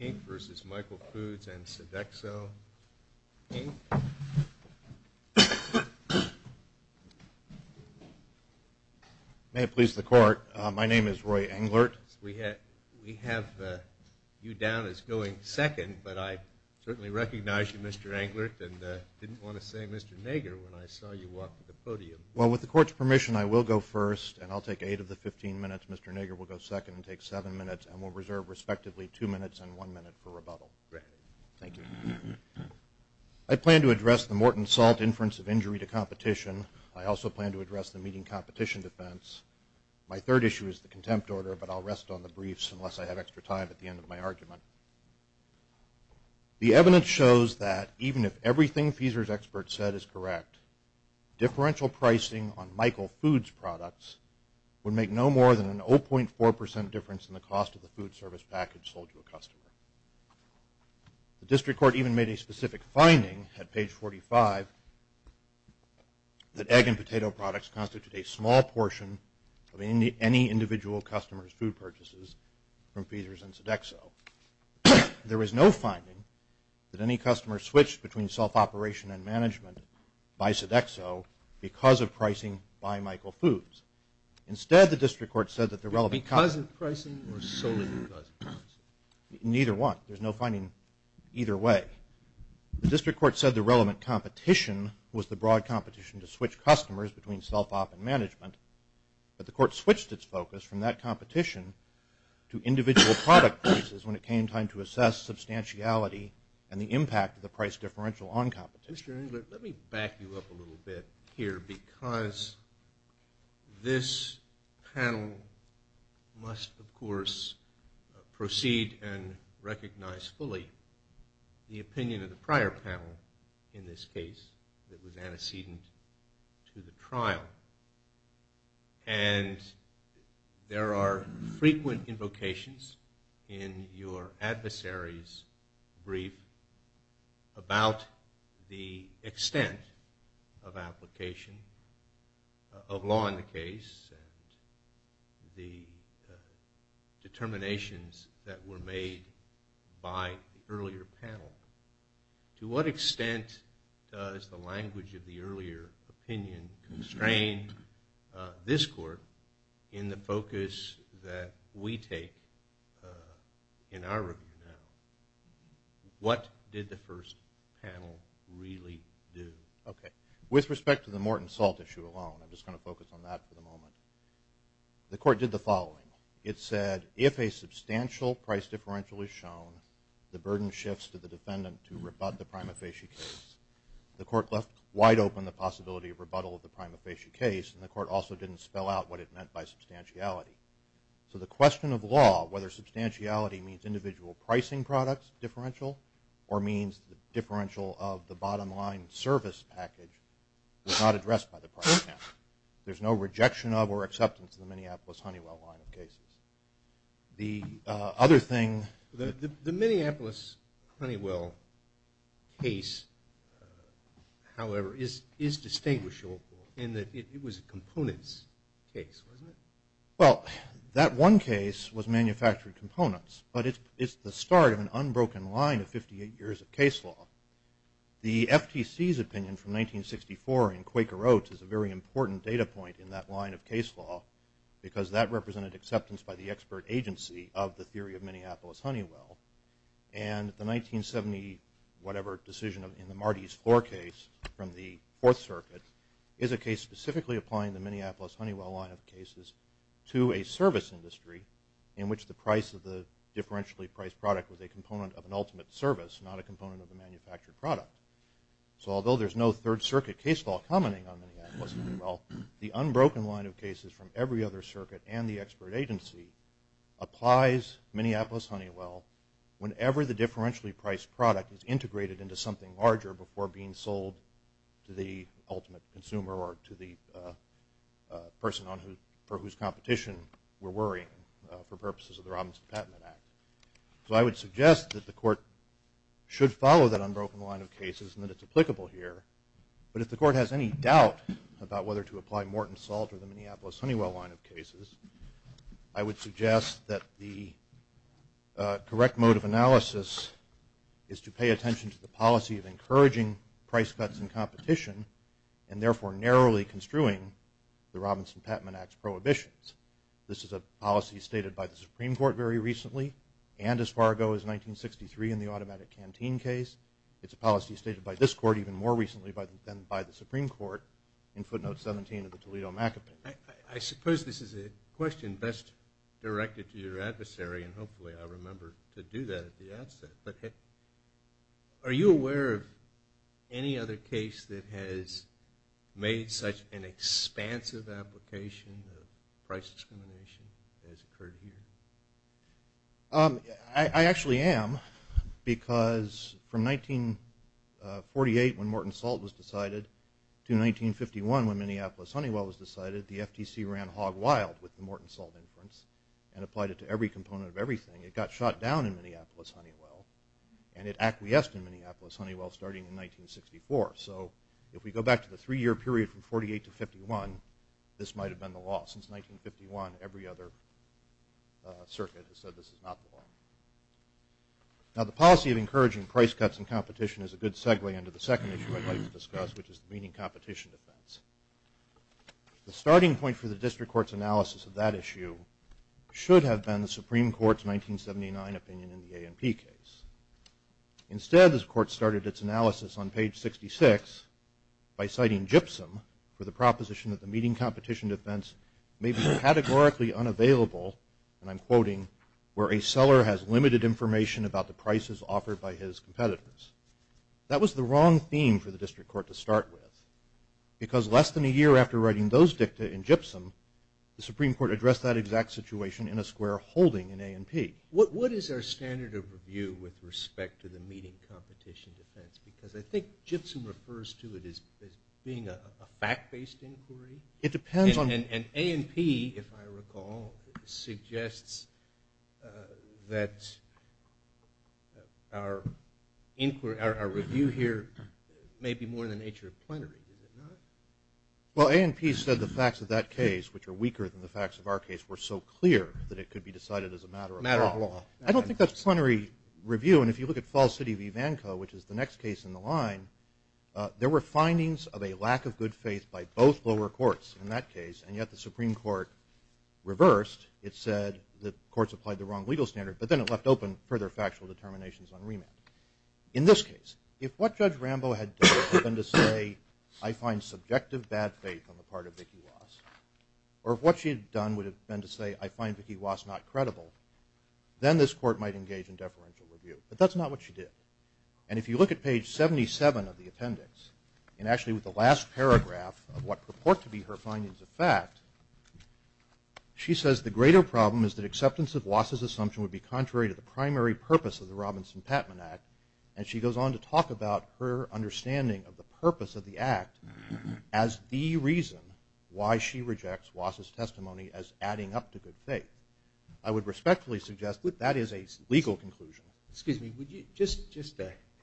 and Sodexo, Inc. May it please the Court, my name is Roy Englert. We have you down as going second, but I certainly recognize you, Mr. Englert, and didn't want to say Mr. Nager when I saw you walk to the podium. Well, with the Court's permission, I will go first, and I'll take eight of the fifteen minutes, Mr. Nager will go second and take seven minutes, and we'll reserve respectively two minutes and one minute for rebuttal. Great. Thank you. I plan to address the Morton Salt inference of injury to competition. I also plan to address the meeting competition defense. My third issue is the contempt order, but I'll rest on the briefs unless I have extra time at the end of my argument. The evidence shows that even if everything Feesers experts said is correct, differential pricing on Michael Foods products would make no more than an 0.4 percent difference in the cost of the food service package sold to a customer. The District Court even made a specific finding at page 45 that egg and potato products constitute a small portion of any individual customer's food purchases from Feesers and Sodexo. There is no finding that any customer switched between self-operation and management by Sodexo because of pricing by Michael Foods. Instead, the District Court said that the relevant... Because of pricing or solely because of pricing? Neither one. There's no finding either way. The District Court said the relevant competition was the broad competition to switch customers between self-op and management, but the Court switched its focus from that competition to individual product prices when it came time to assess substantiality and the impact of the differential on competition. Mr. Engler, let me back you up a little bit here because this panel must of course proceed and recognize fully the opinion of the prior panel in this case that was antecedent to the trial. And there are frequent invocations in your adversary's brief about the extent of application of law in the case and the determinations that were made by the earlier panel. To what extent does the language of the earlier opinion constrain this Court in the focus that we take in our review now? What did the first panel really do? Okay. With respect to the Morton Salt issue alone, I'm just going to focus on that for the moment. The Court did the following. It said, if a substantial price case, the Court left wide open the possibility of rebuttal of the prima facie case and the Court also didn't spell out what it meant by substantiality. So the question of law, whether substantiality means individual pricing products differential or means the differential of the bottom line service package was not addressed by the prior panel. There's no rejection of or acceptance of the Minneapolis Honeywell case, however, is distinguishable in that it was a components case, wasn't it? Well, that one case was manufactured components, but it's the start of an unbroken line of 58 years of case law. The FTC's opinion from 1964 in Quaker Oats is a very important data point in that line of case law, because that represented acceptance by the expert agency of the theory of Minneapolis Honeywell. And the 1970 whatever decision in the Marty's Floor case from the Fourth Circuit is a case specifically applying the Minneapolis Honeywell line of cases to a service industry in which the price of the differentially priced product was a component of an ultimate service, not a component of the manufactured product. So although there's no Third Circuit case law commenting on Minneapolis Honeywell, the unbroken line of cases from every other circuit and the expert agency applies Minneapolis Honeywell whenever the differentially priced product is integrated into something larger before being sold to the ultimate consumer or to the person on who for whose competition we're worrying for purposes of the Robinson Patent Act. So I would suggest that the court should follow that unbroken line of cases and that it's applicable here, but if the court has any doubt about whether to apply Morton Salt or the Minneapolis Honeywell line of cases, I would suggest that the correct mode of analysis is to pay attention to the policy of encouraging price cuts and competition and therefore narrowly construing the Robinson Patent Act's prohibitions. This is a policy stated by the Supreme Court very recently and as far ago as 1963 in the automatic canteen case. It's a policy stated by this court even more recently than by the Supreme Court in footnote 17 of the Toledo Macapin. I suppose this is a question best directed to your adversary and hopefully I remember to do that at the outset, but are you aware of any other case that has made such an expansive application of price discrimination as occurred here? I actually am because from 1948 when Morton Salt was decided to 1951 when Minneapolis Honeywell was decided, the FTC ran hog-wild with the Morton Salt inference and applied it to every component of everything. It got shot down in Minneapolis Honeywell and it acquiesced in Minneapolis Honeywell starting in 1964. So if we go back to the three-year period from 48 to 51 this might have been the law. Since 1951 every other circuit has said this is not the law. Now the policy of encouraging price cuts and competition is a good segue into the second issue I'd like to discuss which is the meaning competition defense. The starting point for the district court's analysis of that issue should have been the Supreme Court's for the proposition that the meeting competition defense may be categorically unavailable and I'm quoting where a seller has limited information about the prices offered by his competitors. That was the wrong theme for the district court to start with because less than a year after writing those dicta in GIPSUM the Supreme Court addressed that exact situation in a square holding in A&P. What is our standard of review with respect to the meeting competition defense because I think GIPSUM refers to it as being a fact-based inquiry. It depends on and A&P if I recall suggests that our inquiry our review here may be more in the nature of plenary. Well A&P said the facts of that case which are weaker than the facts of our case were so clear that it could be decided as a matter of matter of law. I don't think that's plenary review and if you look at false city Vanco which is the next case in the line there were findings of a lack of good faith by both lower courts in that case and yet the Supreme Court reversed it said that courts applied the wrong legal standard but then it left open further factual determinations on remand. In this case if what Judge Rambo had been to say I find subjective bad faith on the part of Vicki Wass or what she had done would have been to say I find Vicki Wass not credible then this court might engage in deferential review but that's not what she did and if you look at page 77 of the appendix and actually with the last paragraph of what purport to be her findings of fact she says the greater problem is that acceptance of Wass' assumption would be contrary to the primary purpose of the Robinson-Patman Act and she goes on to talk about her understanding of the purpose of the act as the reason why she rejects Wass' testimony as adding up to good faith. I would respectfully suggest that that is a legal conclusion. Excuse me would you just just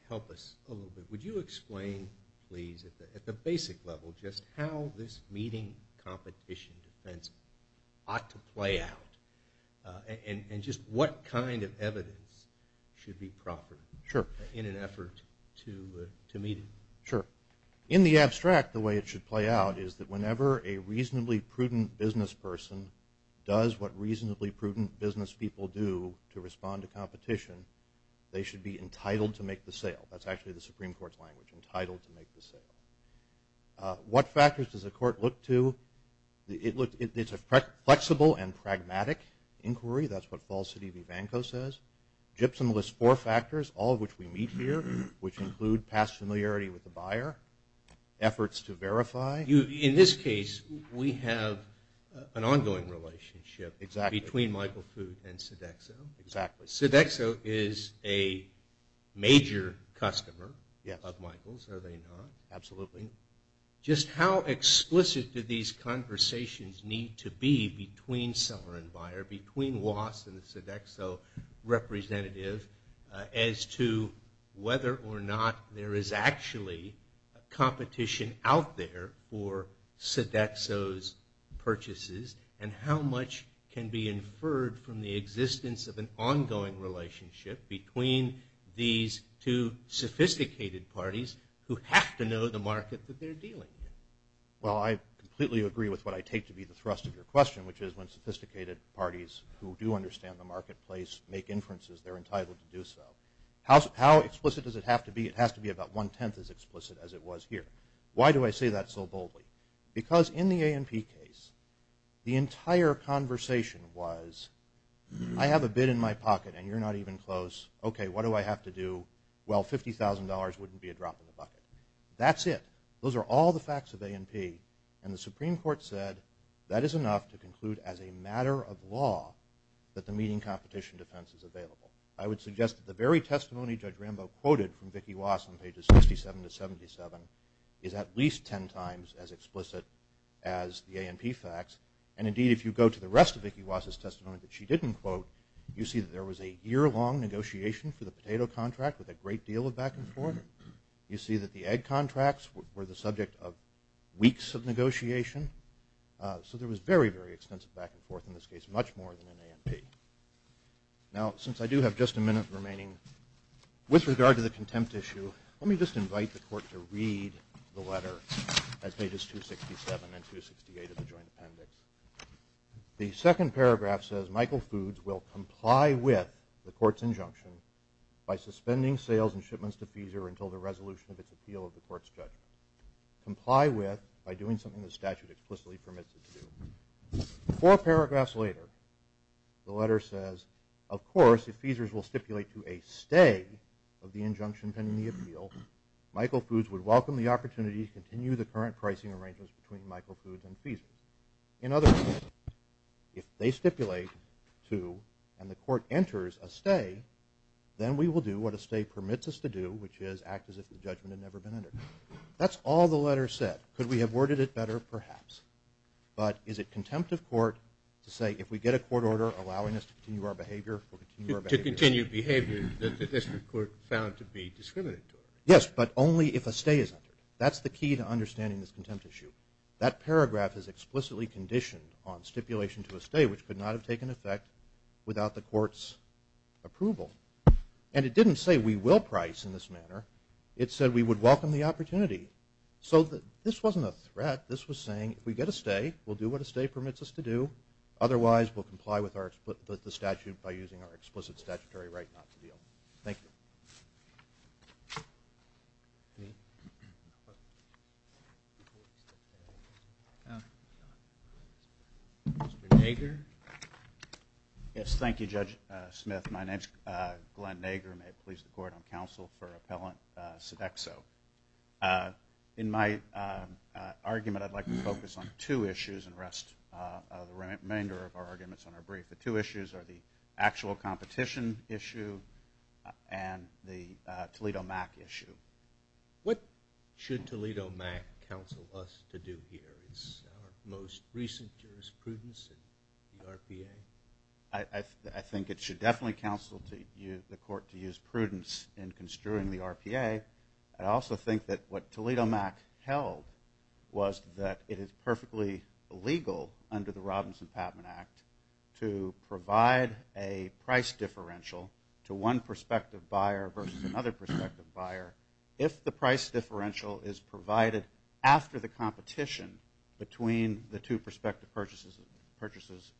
help us a little bit would you explain please at the basic level just how this meeting competition defense ought to play out and just what kind of evidence should be proper in an effort to meet it? Sure in the abstract the way it should play out is that whenever a reasonably prudent business person does what reasonably prudent business people do to respond to competition they should be entitled to make the sale that's actually the Supreme Court's language entitled to make the sale. What factors does the court look to? It's a flexible and pragmatic inquiry that's what falsity Vivanko says. Gibson lists four factors all of which we meet here which include past familiarity with the buyer, efforts to verify. In this case we have an ongoing relationship between Michael Foote and Sodexo. Sodexo is a major customer of Michael's are they not? Absolutely. Just how explicit do these conversations need to be between seller and there is actually a competition out there for Sodexo's purchases and how much can be inferred from the existence of an ongoing relationship between these two sophisticated parties who have to know the market that they're dealing? Well I completely agree with what I take to be the thrust of your question which is when sophisticated parties who do understand the marketplace make how explicit does it have to be? It has to be about one-tenth as explicit as it was here. Why do I say that so boldly? Because in the A&P case the entire conversation was I have a bid in my pocket and you're not even close okay what do I have to do? Well $50,000 wouldn't be a drop in the bucket. That's it. Those are all the facts of A&P and the Supreme Court said that is enough to conclude as a matter of law that the meeting competition defense is available. I would suggest the very testimony Judge Rambo quoted from Vicki Wass on pages 67 to 77 is at least 10 times as explicit as the A&P facts and indeed if you go to the rest of Vicki Wass' testimony that she didn't quote you see that there was a year-long negotiation for the potato contract with a great deal of back-and-forth. You see that the egg contracts were the subject of weeks of negotiation so there was very very extensive back-and-forth in this case much more than an A&P. Now since I do have just a minute remaining with regard to the contempt issue let me just invite the court to read the letter as pages 267 and 268 of the Joint Appendix. The second paragraph says Michael Foods will comply with the court's injunction by suspending sales and shipments to FISA until the resolution of its appeal of the court's judgment. Comply with by doing something the statute explicitly permits it to do. Four paragraphs later the letter says of course if FISA's will stipulate to a stay of the injunction pending the appeal Michael Foods would welcome the opportunity to continue the current pricing arrangements between Michael Foods and FISA. In other words if they stipulate to and the court enters a stay then we will do what a stay permits us to do which is act as if the judgment had never been entered. That's all the letter said could we have worded it better perhaps but is it contempt of court to say if we get a court order allowing us to continue our behavior. To continue behavior the district court found to be discriminatory. Yes but only if a stay is entered that's the key to understanding this contempt issue. That paragraph is explicitly conditioned on stipulation to a stay which could not have taken effect without the court's approval and it didn't say we will price in this manner it said we would welcome the opportunity. So that this wasn't a threat this was saying if we get a stay we'll do what a stay permits us to do otherwise we'll comply with our split with the statute by using our explicit statutory right not to deal. Thank you. Yes thank you Judge Smith my name's Glenn Nager may it please the court on counsel for appellant Sodexo. In my argument I'd like to focus on two issues and rest of the remainder of our arguments on our brief. The two issues are the actual competition issue and the Toledo Mac issue. What should Toledo Mac counsel us to do here is most recent jurisprudence in the RPA. I think it should definitely counsel the court to use prudence in construing the RPA. I also think that what Toledo Mac held was that it is perfectly legal under the Robinson-Patman Act to provide a price differential to one prospective buyer versus another prospective buyer if the price differential is provided after the competition between the two prospective purchases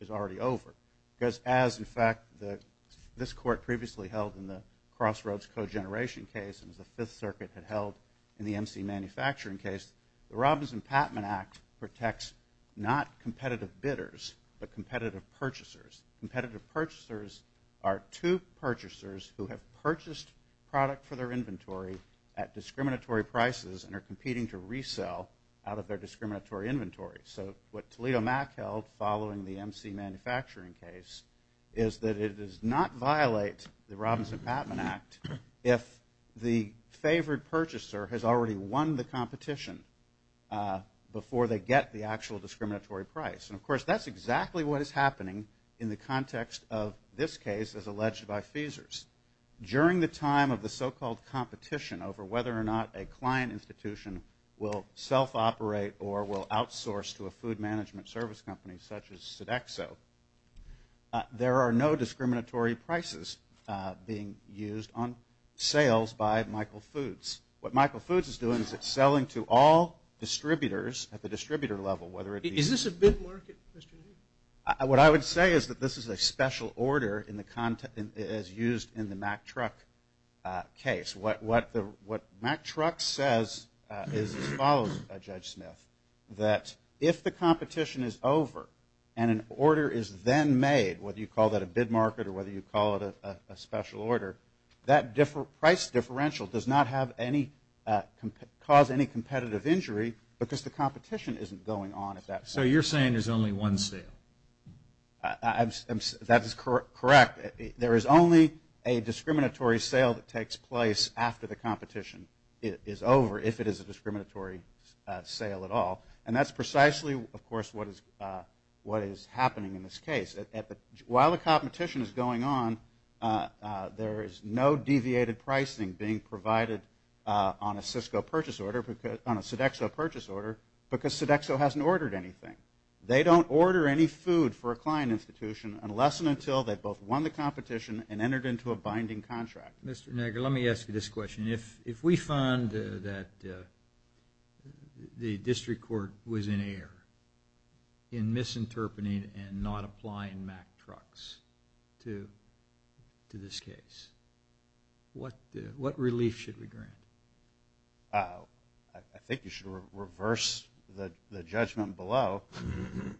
is already over. Because as in fact the this court previously held in the Crossroads co-generation case and the Fifth Circuit had held in the MC manufacturing case the Robinson-Patman Act protects not competitive bidders but competitive purchasers. Competitive purchasers are two purchasers who have purchased product for their inventory at discriminatory prices and are competing to resell out of their discriminatory inventory. So what Toledo Mac held following the MC manufacturing case is that it does not violate the Robinson-Patman Act if the favored purchaser has already won the competition before they get the actual discriminatory price. And of course that's exactly what is happening in the context of this case as alleged by Feasers. During the time of the so-called competition over whether or not a client institution will self-operate or will outsource to a food management service company such as Sodexo there are no discriminatory prices being used on sales by Michael Foods. What Michael Foods is doing is selling to all distributors at the distributor level. Is this a bid market? What I would say is that this is a special order as used in the Mack Truck case. What Mack Truck says is as follows Judge Smith that if the competition is over and an order is then made whether you call that a bid market or whether you call it a special order that price differential does not have any cause any competitive injury because the competition isn't going on at that point. So you're saying there's only one sale? That is correct. There is only a discriminatory sale that takes place after the competition is over if it is a discriminatory sale at all. And that's precisely of course what is what is happening in this on a Sodexo purchase order because Sodexo hasn't ordered anything. They don't order any food for a client institution unless and until they've both won the competition and entered into a binding contract. Mr. Negger let me ask you this question. If we find that the district court was in error in misinterpreting and not applying Mack Trucks to this case what relief should we grant? I think you should reverse the judgment below.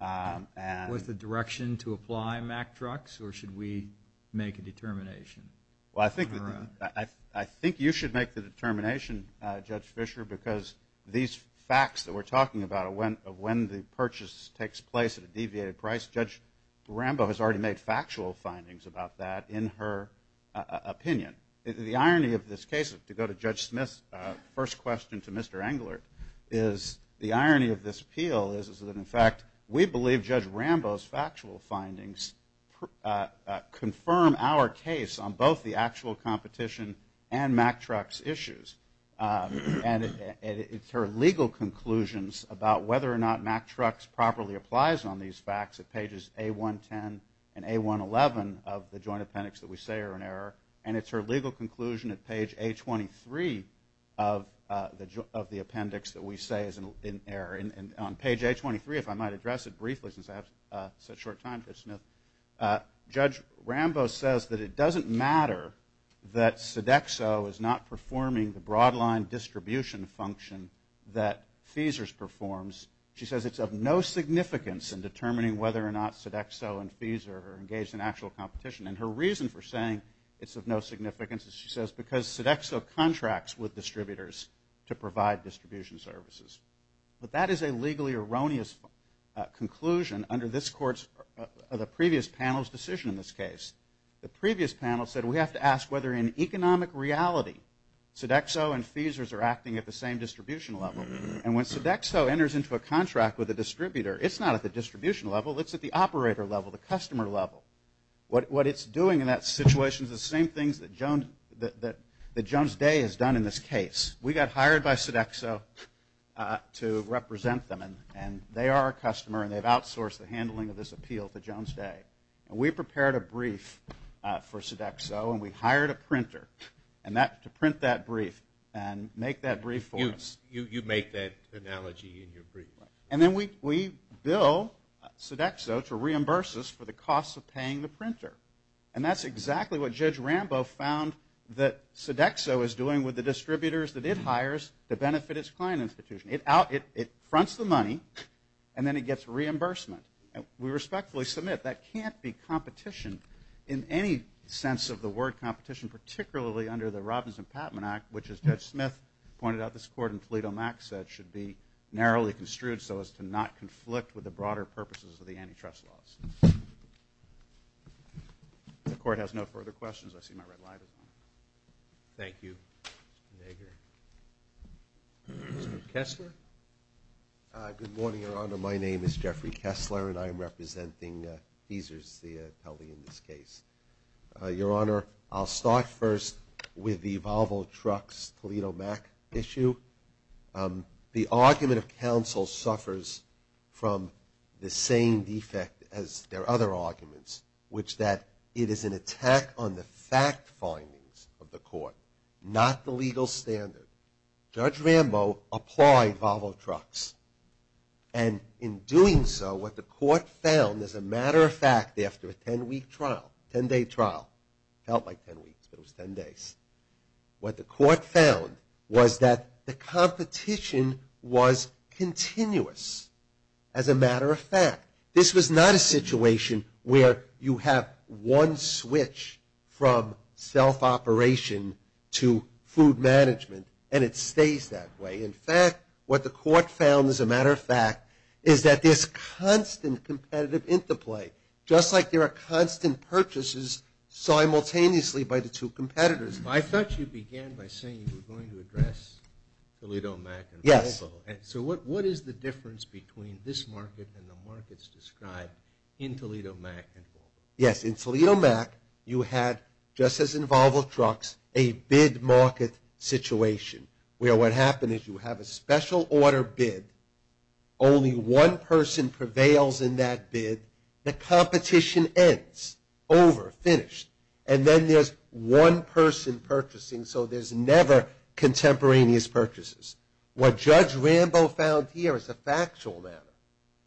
Was the direction to apply Mack Trucks or should we make a determination? Well I think I think you should make the determination Judge Fisher because these facts that we're talking about when when the purchase takes place at a deviated price Judge Rambo has already made factual findings about that in her opinion. The irony of this case to go to Judge first question to Mr. Engler is the irony of this appeal is that in fact we believe Judge Rambo's factual findings confirm our case on both the actual competition and Mack Trucks issues. And it's her legal conclusions about whether or not Mack Trucks properly applies on these facts at pages A110 and A111 of the joint appendix that we say are in error and it's her legal conclusion at page A23 of the of the appendix that we say is in error and on page A23 if I might address it briefly since I have such short time Judge Smith. Judge Rambo says that it doesn't matter that Sodexo is not performing the broad line distribution function that Feesers performs. She says it's of no significance in determining whether or not Sodexo and Feeser are engaged in actual competition and her reason for saying it's of no significance is she says because Sodexo contracts with distributors to provide distribution services. But that is a legally erroneous conclusion under this court's of the previous panel's decision in this case. The previous panel said we have to ask whether in economic reality Sodexo and Feesers are acting at the same distribution level and when Sodexo enters into a contract with a distributor it's not at the distribution level it's at the distribution level. What it's doing in that situation is the same things that Jones Day has done in this case. We got hired by Sodexo to represent them and they are our customer and they've outsourced the handling of this appeal to Jones Day and we prepared a brief for Sodexo and we hired a printer and that to print that brief and make that brief for us. You make that analogy in your brief. And then we bill Sodexo to reimburse us for the costs of paying the printer and that's exactly what Judge Rambo found that Sodexo is doing with the distributors that it hires to benefit its client institution. It fronts the money and then it gets reimbursement and we respectfully submit that can't be competition in any sense of the word competition particularly under the Robbins and Patman Act which as Judge Smith pointed out this court in Toledo Mac said should be narrowly construed so as to not conflict with the broader purposes of the antitrust laws. The court has no further questions. I see my red light. Thank you Mr. Nager. Mr. Kessler. Good morning Your Honor. My name is Jeffrey Kessler and I am representing Beezer's the atelier in this case. Your Honor, I'll start first with the Volvo Trucks Toledo Mac issue. The argument of counsel suffers from the same defect as their other arguments which that it is an attack on the fact findings of the court, not the legal standard. Judge Rambo applied Volvo Trucks and in doing so what the court found as a matter of fact after a 10-week trial, 10-day trial, felt like 10 weeks but it was 10 days, what the court found was that the competition was continuous as a matter of fact. This was not a situation where you have one switch from self-operation to food management and it stays that way. In fact, what the court found as a interplay, just like there are constant purchases simultaneously by the two competitors. I thought you began by saying you were going to address Toledo Mac and Volvo. So what is the difference between this market and the markets described in Toledo Mac and Volvo? Yes, in Toledo Mac you had just as in Volvo Trucks, a bid market situation where what happened is you have a special order bid, only one person prevails in that bid, the competition ends, over, finished and then there's one person purchasing so there's never contemporaneous purchases. What Judge Rambo found here as a factual matter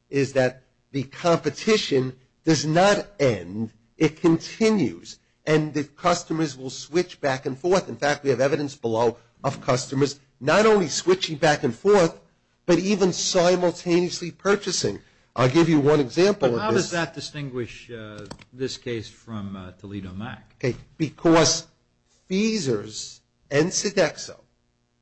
is that the competition does not end, it continues and the customers will switch back and forth. In fact, we have evidence below of customers not only switching back and forth but even simultaneously purchasing. I'll give you one example of this. How does that distinguish this case from Toledo Mac? Okay, because Feesers and Sodexo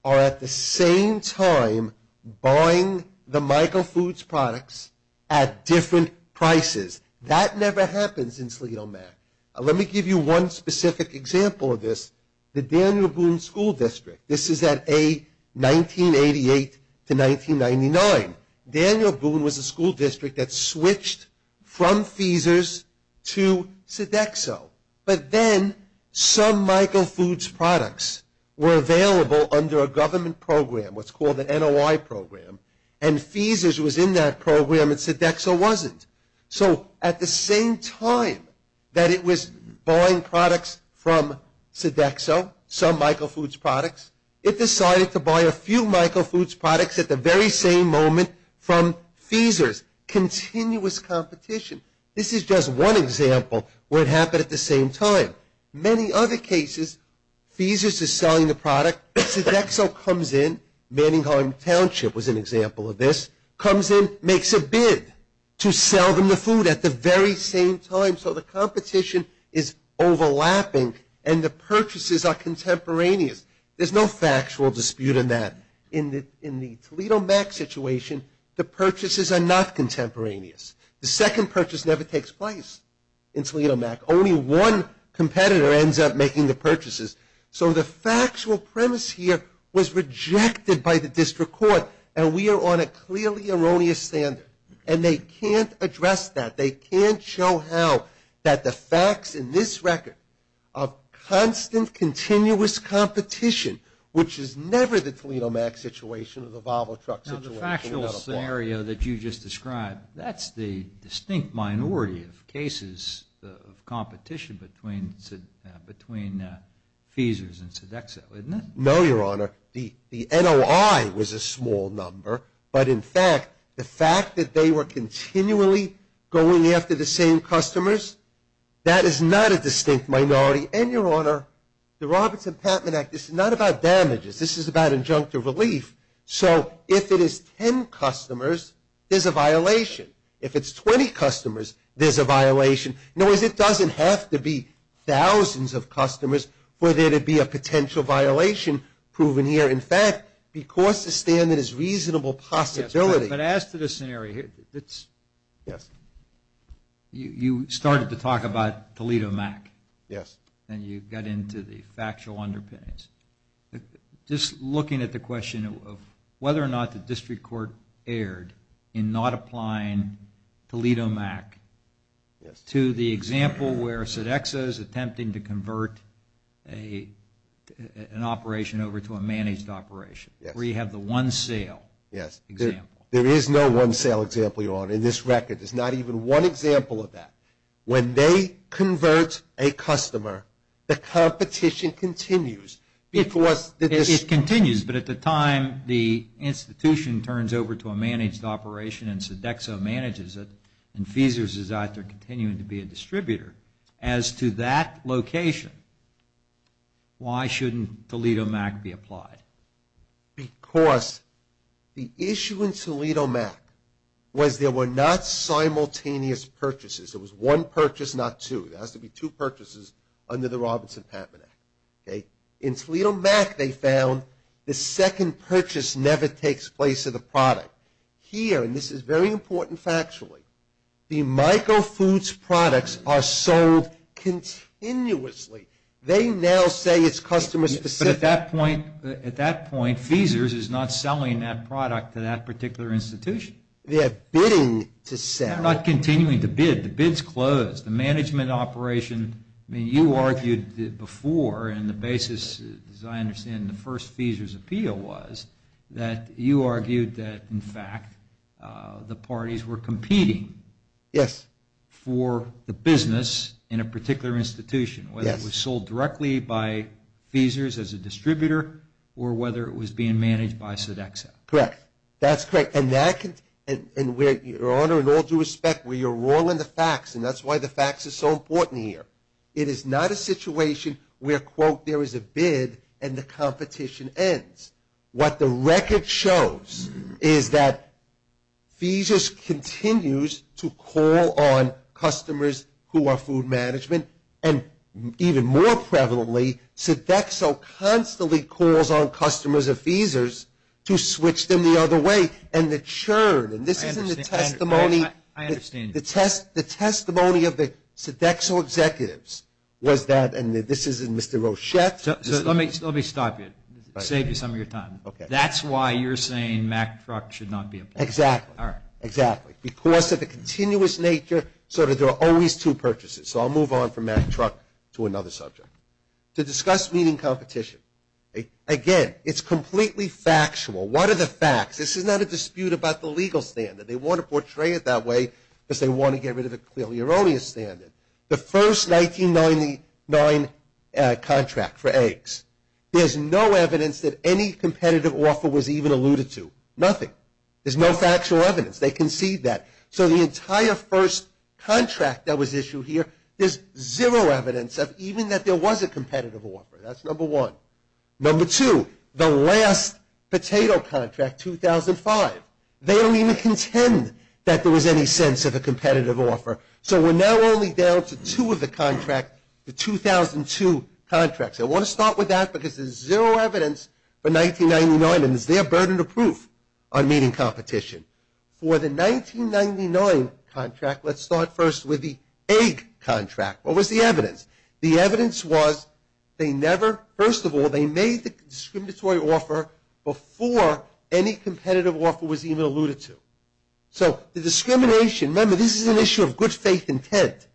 are at the same time buying the Michael Foods products at different prices. That never happens in Toledo Mac. Let me give you one specific example of this, the Daniel Boone School District. This is at A, 1988 to 1999. Daniel Boone was a school district that switched from Feesers to Sodexo but then some Michael Foods products were available under a government program, what's called the NOI program and Feesers was in that program and Sodexo wasn't. So at the same time that it was buying products from Sodexo, some Michael Foods products, it decided to buy a few Michael Foods products at the very same moment from Feesers. Continuous competition. This is just one example where it happened at the same time. Many other cases, Feesers is selling the product, Sodexo comes in, Manningham Township was an example of this, comes in, makes a bid to sell them the food at the very same time. So the competition is overlapping and the purchases are contemporaneous. There's no factual dispute in that. In the Toledo Mac situation, the purchases are not contemporaneous. The second purchase never takes place in Toledo Mac. Only one competitor ends up making the purchases. So the factual premise here was rejected by the clearly erroneous standard and they can't address that. They can't show how that the facts in this record of constant continuous competition, which is never the Toledo Mac situation or the Volvo truck situation. Now the factual scenario that you just described, that's the distinct minority of cases of competition between Feesers and Sodexo, isn't it? No, your honor. The NOI was a small number, but in fact, the fact that they were continually going after the same customers, that is not a distinct minority. And your honor, the Robertson-Patman Act, this is not about damages. This is about injunctive relief. So if it is 10 customers, there's a violation. If it's 20 customers, there's a violation. In other words, it doesn't have to be thousands of customers for there to be a potential violation proven here. In fact, because the standard is reasonable possibility. But as to the scenario, you started to talk about Toledo Mac. Yes. And you got into the factual underpinnings. Just looking at the question of whether or not the district court erred in not applying Toledo Mac to the example where Sodexo is attempting to convert an operation over to a managed operation, where you have the one sale example. Yes. There is no one sale example, your honor, in this record. There's not even one example of that. When they convert a customer, the competition continues. It continues, but at the time the institution turns over to a managed operation and Sodexo manages it, and Feesers is out there continuing to be a distributor. As to that location, why shouldn't Toledo Mac be applied? Because the issue in Toledo Mac was there were not simultaneous purchases. It was one purchase, not two. There has to be two purchases under the Robertson-Patman Act. In Toledo Mac, they found the second purchase never takes place of the product. Here, and this is very important factually, the micro foods products are sold continuously. They now say it's customer specific. But at that point, at that point, Feesers is not selling that product to that particular institution. They're bidding to sell. They're not continuing to bid. The bid's appeal was that you argued that, in fact, the parties were competing for the business in a particular institution, whether it was sold directly by Feesers as a distributor, or whether it was being managed by Sodexo. Correct. That's correct. And your honor, in all due respect, where you're wrong on the facts, and that's why the facts are so important here. It is not a situation where, quote, there is a bid and the competition ends. What the record shows is that Feesers continues to call on customers who are food management, and even more prevalently, Sodexo constantly calls on customers of Feesers to switch them the other way. And the churn, and this is in the testimony of the Sodexo executives, was that, and this is in Mr. Rochette. So let me stop you. Save you some of your time. Okay. That's why you're saying Mack Truck should not be a part of it. Exactly. All right. Exactly. Because of the continuous nature, sort of, there are always two purchases. So I'll move on from Mack Truck to another subject. To discuss meeting competition. Again, it's completely factual. What are the facts? This is not a dispute about the legal standard. They want to portray it that way because they want to get rid of the clearly erroneous standard. The first 1999 contract for eggs, there's no evidence that any competitive offer was even alluded to. Nothing. There's no factual evidence. They concede that. So the entire first contract that was issued here, there's zero evidence of even that there was a competitive offer. That's number one. Number two, the last potato contract, 2005. They don't even contend that there was any sense of a competitive offer. So we're now only down to two of the contract, the 2002 contracts. I want to start with that because there's zero evidence for 1999, and it's their burden of proof on meeting competition. For the 1999 contract, let's start first with the egg contract. What was the evidence? The evidence was they never, first of all, they made the discriminatory offer before any competitive offer was even alluded to. So the discrimination, remember this is an issue of good faith intent.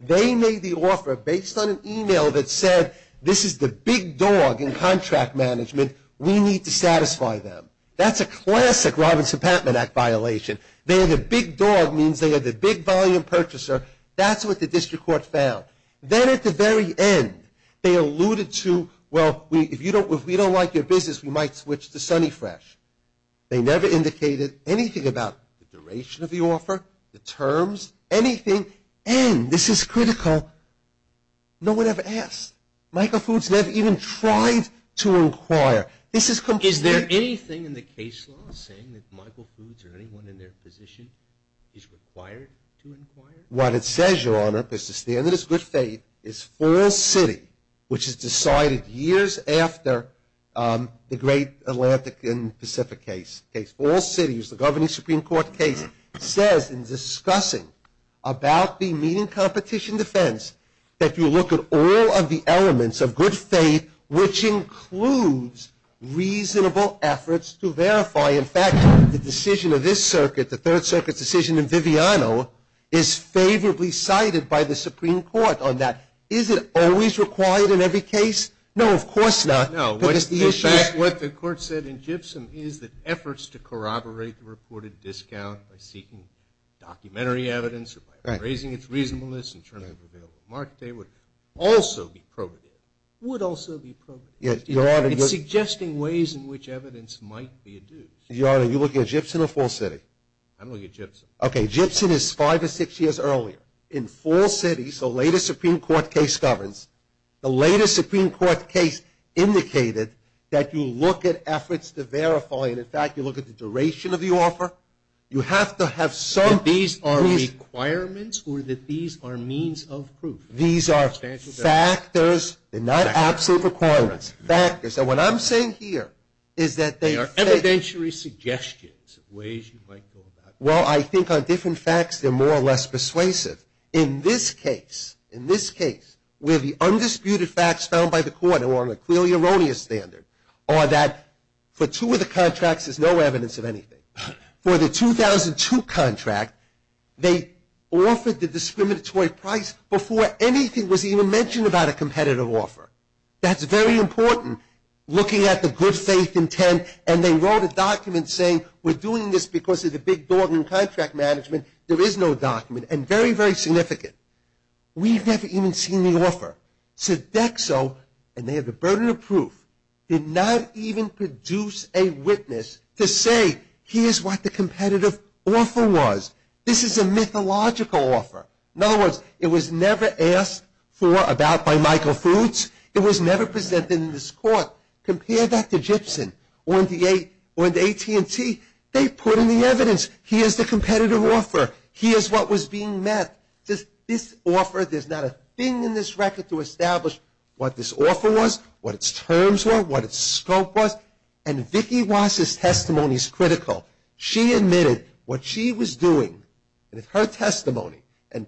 They made the offer based on an email that said, this is the big dog in contract management. We need to satisfy them. That's a classic Robinson-Patman Act violation. They're the big dog means they are the big volume purchaser. That's what the district court found. Then at the very end, they alluded to, well, if we don't like your business, we might switch to Sonny Fresh. They never indicated anything about the duration of the offer, the terms, anything. And this is critical, no one ever asked. Michael Foods never even tried to inquire. This is completely- What it says, Your Honor, is the standard is good faith, is false city, which is decided years after the great Atlantic and Pacific case. False city is the governing Supreme Court case. It says in discussing about the meeting competition defense that you look at all of the elements of good faith, which includes reasonable efforts to verify. In fact, the decision of this circuit, the Third Circuit's decision in Viviano, is favorably cited by the Supreme Court on that. Is it always required in every case? No, of course not. No, what the court said in Gibson is that efforts to corroborate the reported discount by seeking documentary evidence or by raising its It's suggesting ways in which evidence might be adduced. Your Honor, are you looking at Gibson or false city? I'm looking at Gibson. Okay, Gibson is five or six years earlier. In false city, so later Supreme Court case governs, the later Supreme Court case indicated that you look at efforts to verify, and in fact, you look at the duration of the offer. You have to have some- That these are requirements or that these are means of proof? These are factors. They're not absolute requirements. Factors. And what I'm saying here is that they are- They are evidentiary suggestions of ways you might go about it. Well, I think on different facts, they're more or less persuasive. In this case, in this case, where the undisputed facts found by the court, and we're on a clearly erroneous standard, are that for two of the contracts, there's no evidence of anything. For the 2002 contract, they offered the discriminatory price before anything was even mentioned about a competitive offer. That's very important, looking at the good faith intent, and they wrote a document saying, we're doing this because of the big dog in contract management, there is no document, and very, very significant. Sodexo, and they have the burden of proof, did not even produce a witness to say, here's what the competitive offer was. This is a mythological offer. In other words, it was never asked for about by Michael Foods. It was never presented in this court. Compare that to Gibson or the AT&T. They put in the evidence. Here's the competitive offer. Here's what was being met. This offer, there's not a thing in this record to establish what this offer was, what its terms were, what its scope was, and Vicky Wass' testimony is critical. She admitted what she was doing with her testimony, and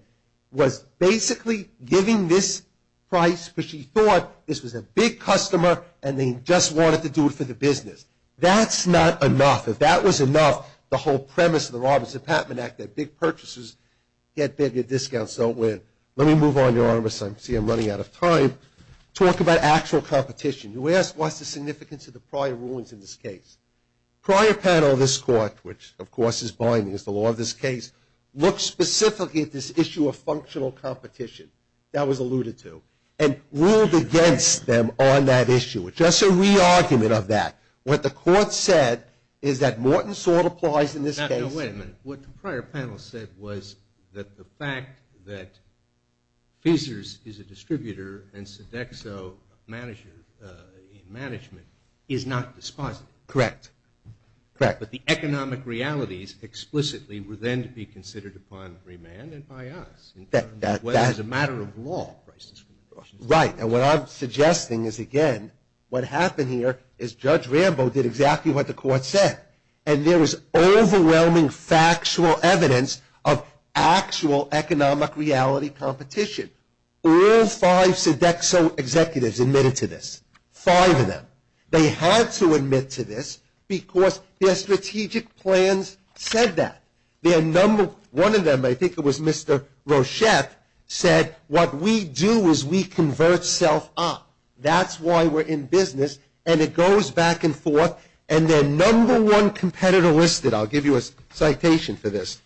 was basically giving this price because she thought this was a big customer, and they just wanted to do it for the business. That's not enough. If that was enough, the whole premise of the Robertson-Patman Act, that big purchasers can't bid, their discounts don't win. Let me move on, Your Honor, because I see I'm running out of time. Talk about actual competition. What's the significance of the prior rulings in this case? Prior panel of this court, which, of course, is binding, is the law of this case, looked specifically at this issue of functional competition, that was alluded to, and ruled against them on that issue. It's just a re-argument of that. What the court said is that Morton sort of applies in this case. Now, wait a minute. What the prior panel said was that the fact that Fisers is a distributor and Sodexo a manager in management is not dispositive. Correct. Correct. But the economic realities explicitly were then to be considered upon remand and by us, in terms of whether it was a matter of law. Right, and what I'm suggesting is, again, what happened here is Judge Rambo did exactly what the court said, and there was overwhelming factual evidence of actual economic reality competition. All five Sodexo executives admitted to this, five of them. They had to admit to this because their strategic plans said that. Their number one of them, I think it was Mr. Rochef, said, what we do is we convert self up. That's why we're in business, and it goes back and forth. And their number one competitor listed, I'll give you a citation for this.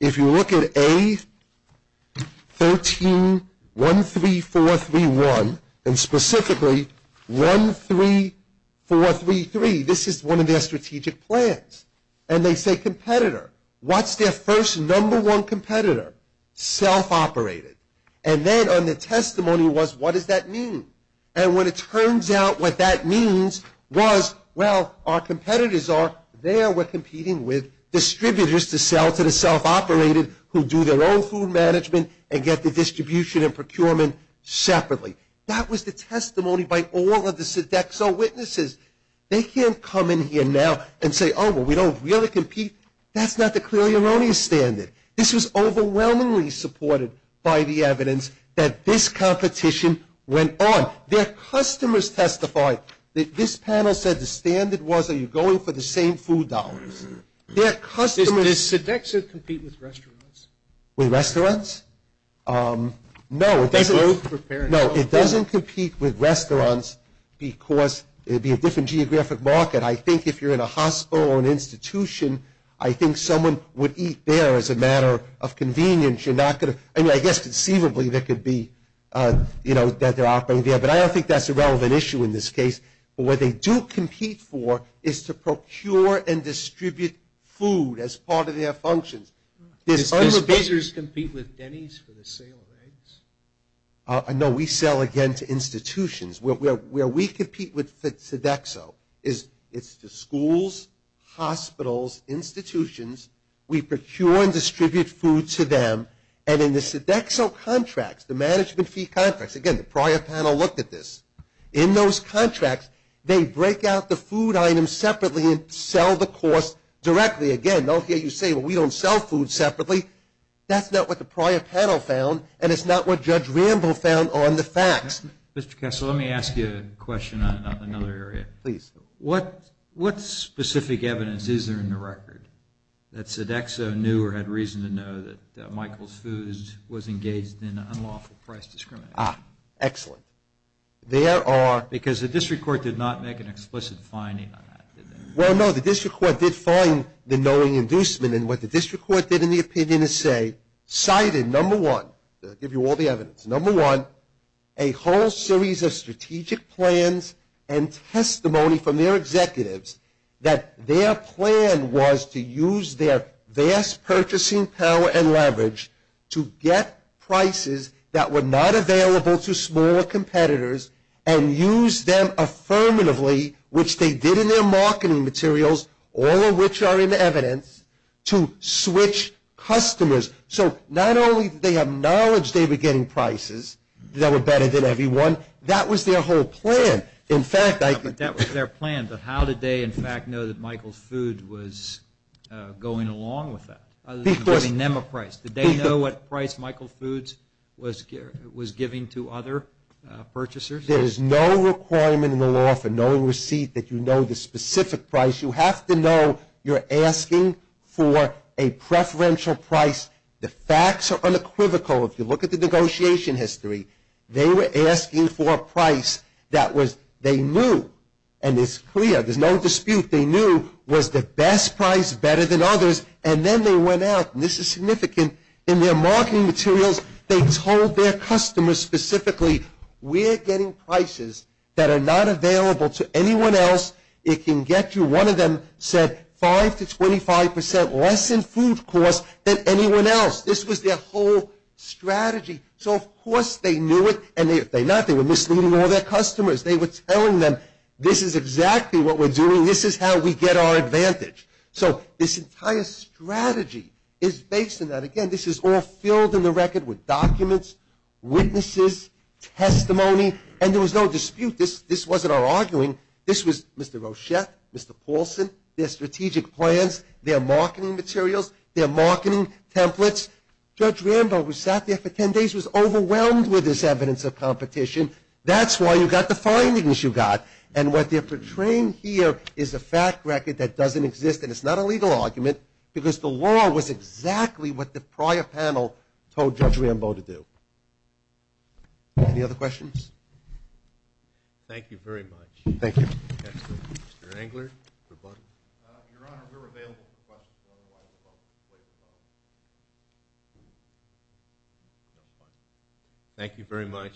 If you look at A1313431, and specifically 13433, this is one of their strategic plans. And they say competitor. What's their first number one competitor? Self operated. And then on the testimony was, what does that mean? And when it turns out what that means was, well, our competitors are there. We're competing with distributors to sell to the self operated who do their own food management and get the distribution and procurement separately. That was the testimony by all of the Sodexo witnesses. They can't come in here now and say, oh, well, we don't really compete. That's not the clearly erroneous standard. This was overwhelmingly supported by the evidence that this competition went on. Their customers testified. This panel said the standard was, are you going for the same food dollars? Their customers- Does Sodexo compete with restaurants? With restaurants? No, it doesn't. No, it doesn't compete with restaurants because it would be a different geographic market. I think if you're in a hospital or an institution, I think someone would eat there as a matter of convenience. You're not going to- I mean, I guess conceivably there could be, you know, that they're operating there. But I don't think that's a relevant issue in this case. But what they do compete for is to procure and distribute food as part of their functions. Does Pizzer's compete with Denny's for the sale of eggs? No, we sell again to institutions. Where we compete with Sodexo is it's the schools, hospitals, institutions. We procure and distribute food to them. And in the Sodexo contracts, the management fee contracts, again, the prior panel looked at this. In those contracts, they break out the food items separately and sell the cost directly. Again, I don't care what you say, but we don't sell food separately. That's not what the prior panel found, and it's not what Judge Rambo found on the facts. Mr. Kessel, let me ask you a question on another area. Please. What specific evidence is there in the record that Sodexo knew or had reason to know that Michael's Foods was engaged in unlawful price discrimination? Ah, excellent. There are- Because the district court did not make an explicit finding on that, did they? Well, no, the district court did find the knowing inducement. And what the district court did in the opinion is say, cited, number one, I'll give you all the evidence. Number one, a whole series of strategic plans and testimony from their executives that their plan was to use their vast purchasing power and leverage to get prices that were not available to smaller competitors and use them affirmatively, which they did in their marketing materials, all of which are in evidence, to switch customers. So not only did they acknowledge they were getting prices that were better than everyone, that was their whole plan. In fact, I- That was their plan, but how did they, in fact, know that Michael's Foods was going along with that? Other than giving them a price, did they know what price Michael Foods was giving to other purchasers? There is no requirement in the law for knowing receipt that you know the specific price. You have to know you're asking for a preferential price. The facts are unequivocal. If you look at the negotiation history, they were asking for a price that was, they knew, and it's clear, there's no dispute, they knew was the best price, better than others. And then they went out, and this is significant, in their marketing materials, they told their customers specifically, we're getting prices that are not available to anyone else. It can get you, one of them said, 5 to 25% less in food costs than anyone else. This was their whole strategy. So of course they knew it, and if they're not, they were misleading all their customers. They were telling them, this is exactly what we're doing, this is how we get our advantage. So this entire strategy is based on that. Again, this is all filled in the record with documents, witnesses, testimony, and there was no dispute. This wasn't our arguing. This was Mr. Rochette, Mr. Paulson, their strategic plans, their marketing materials, their marketing templates. Judge Rambo, who sat there for 10 days, was overwhelmed with this evidence of competition. That's why you got the findings you got. And what they're portraying here is a fact record that doesn't exist, and it's not a legal argument, because the law was exactly what the prior panel told Judge Rambo to do. Any other questions? Thank you very much. Thank you. Mr. Kessler, Mr. Englert, Mr. Budden. Your Honor, we're available for questions. Otherwise, we'll wait in silence. Thank you very much,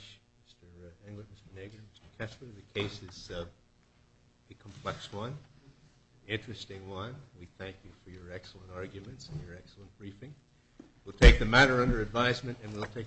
Mr. Englert, Mr. Nager, Mr. Kessler. The case is a complex one, an interesting one. We thank you for your excellent arguments and your excellent briefing. We'll take the matter under advisement, and we'll take a break.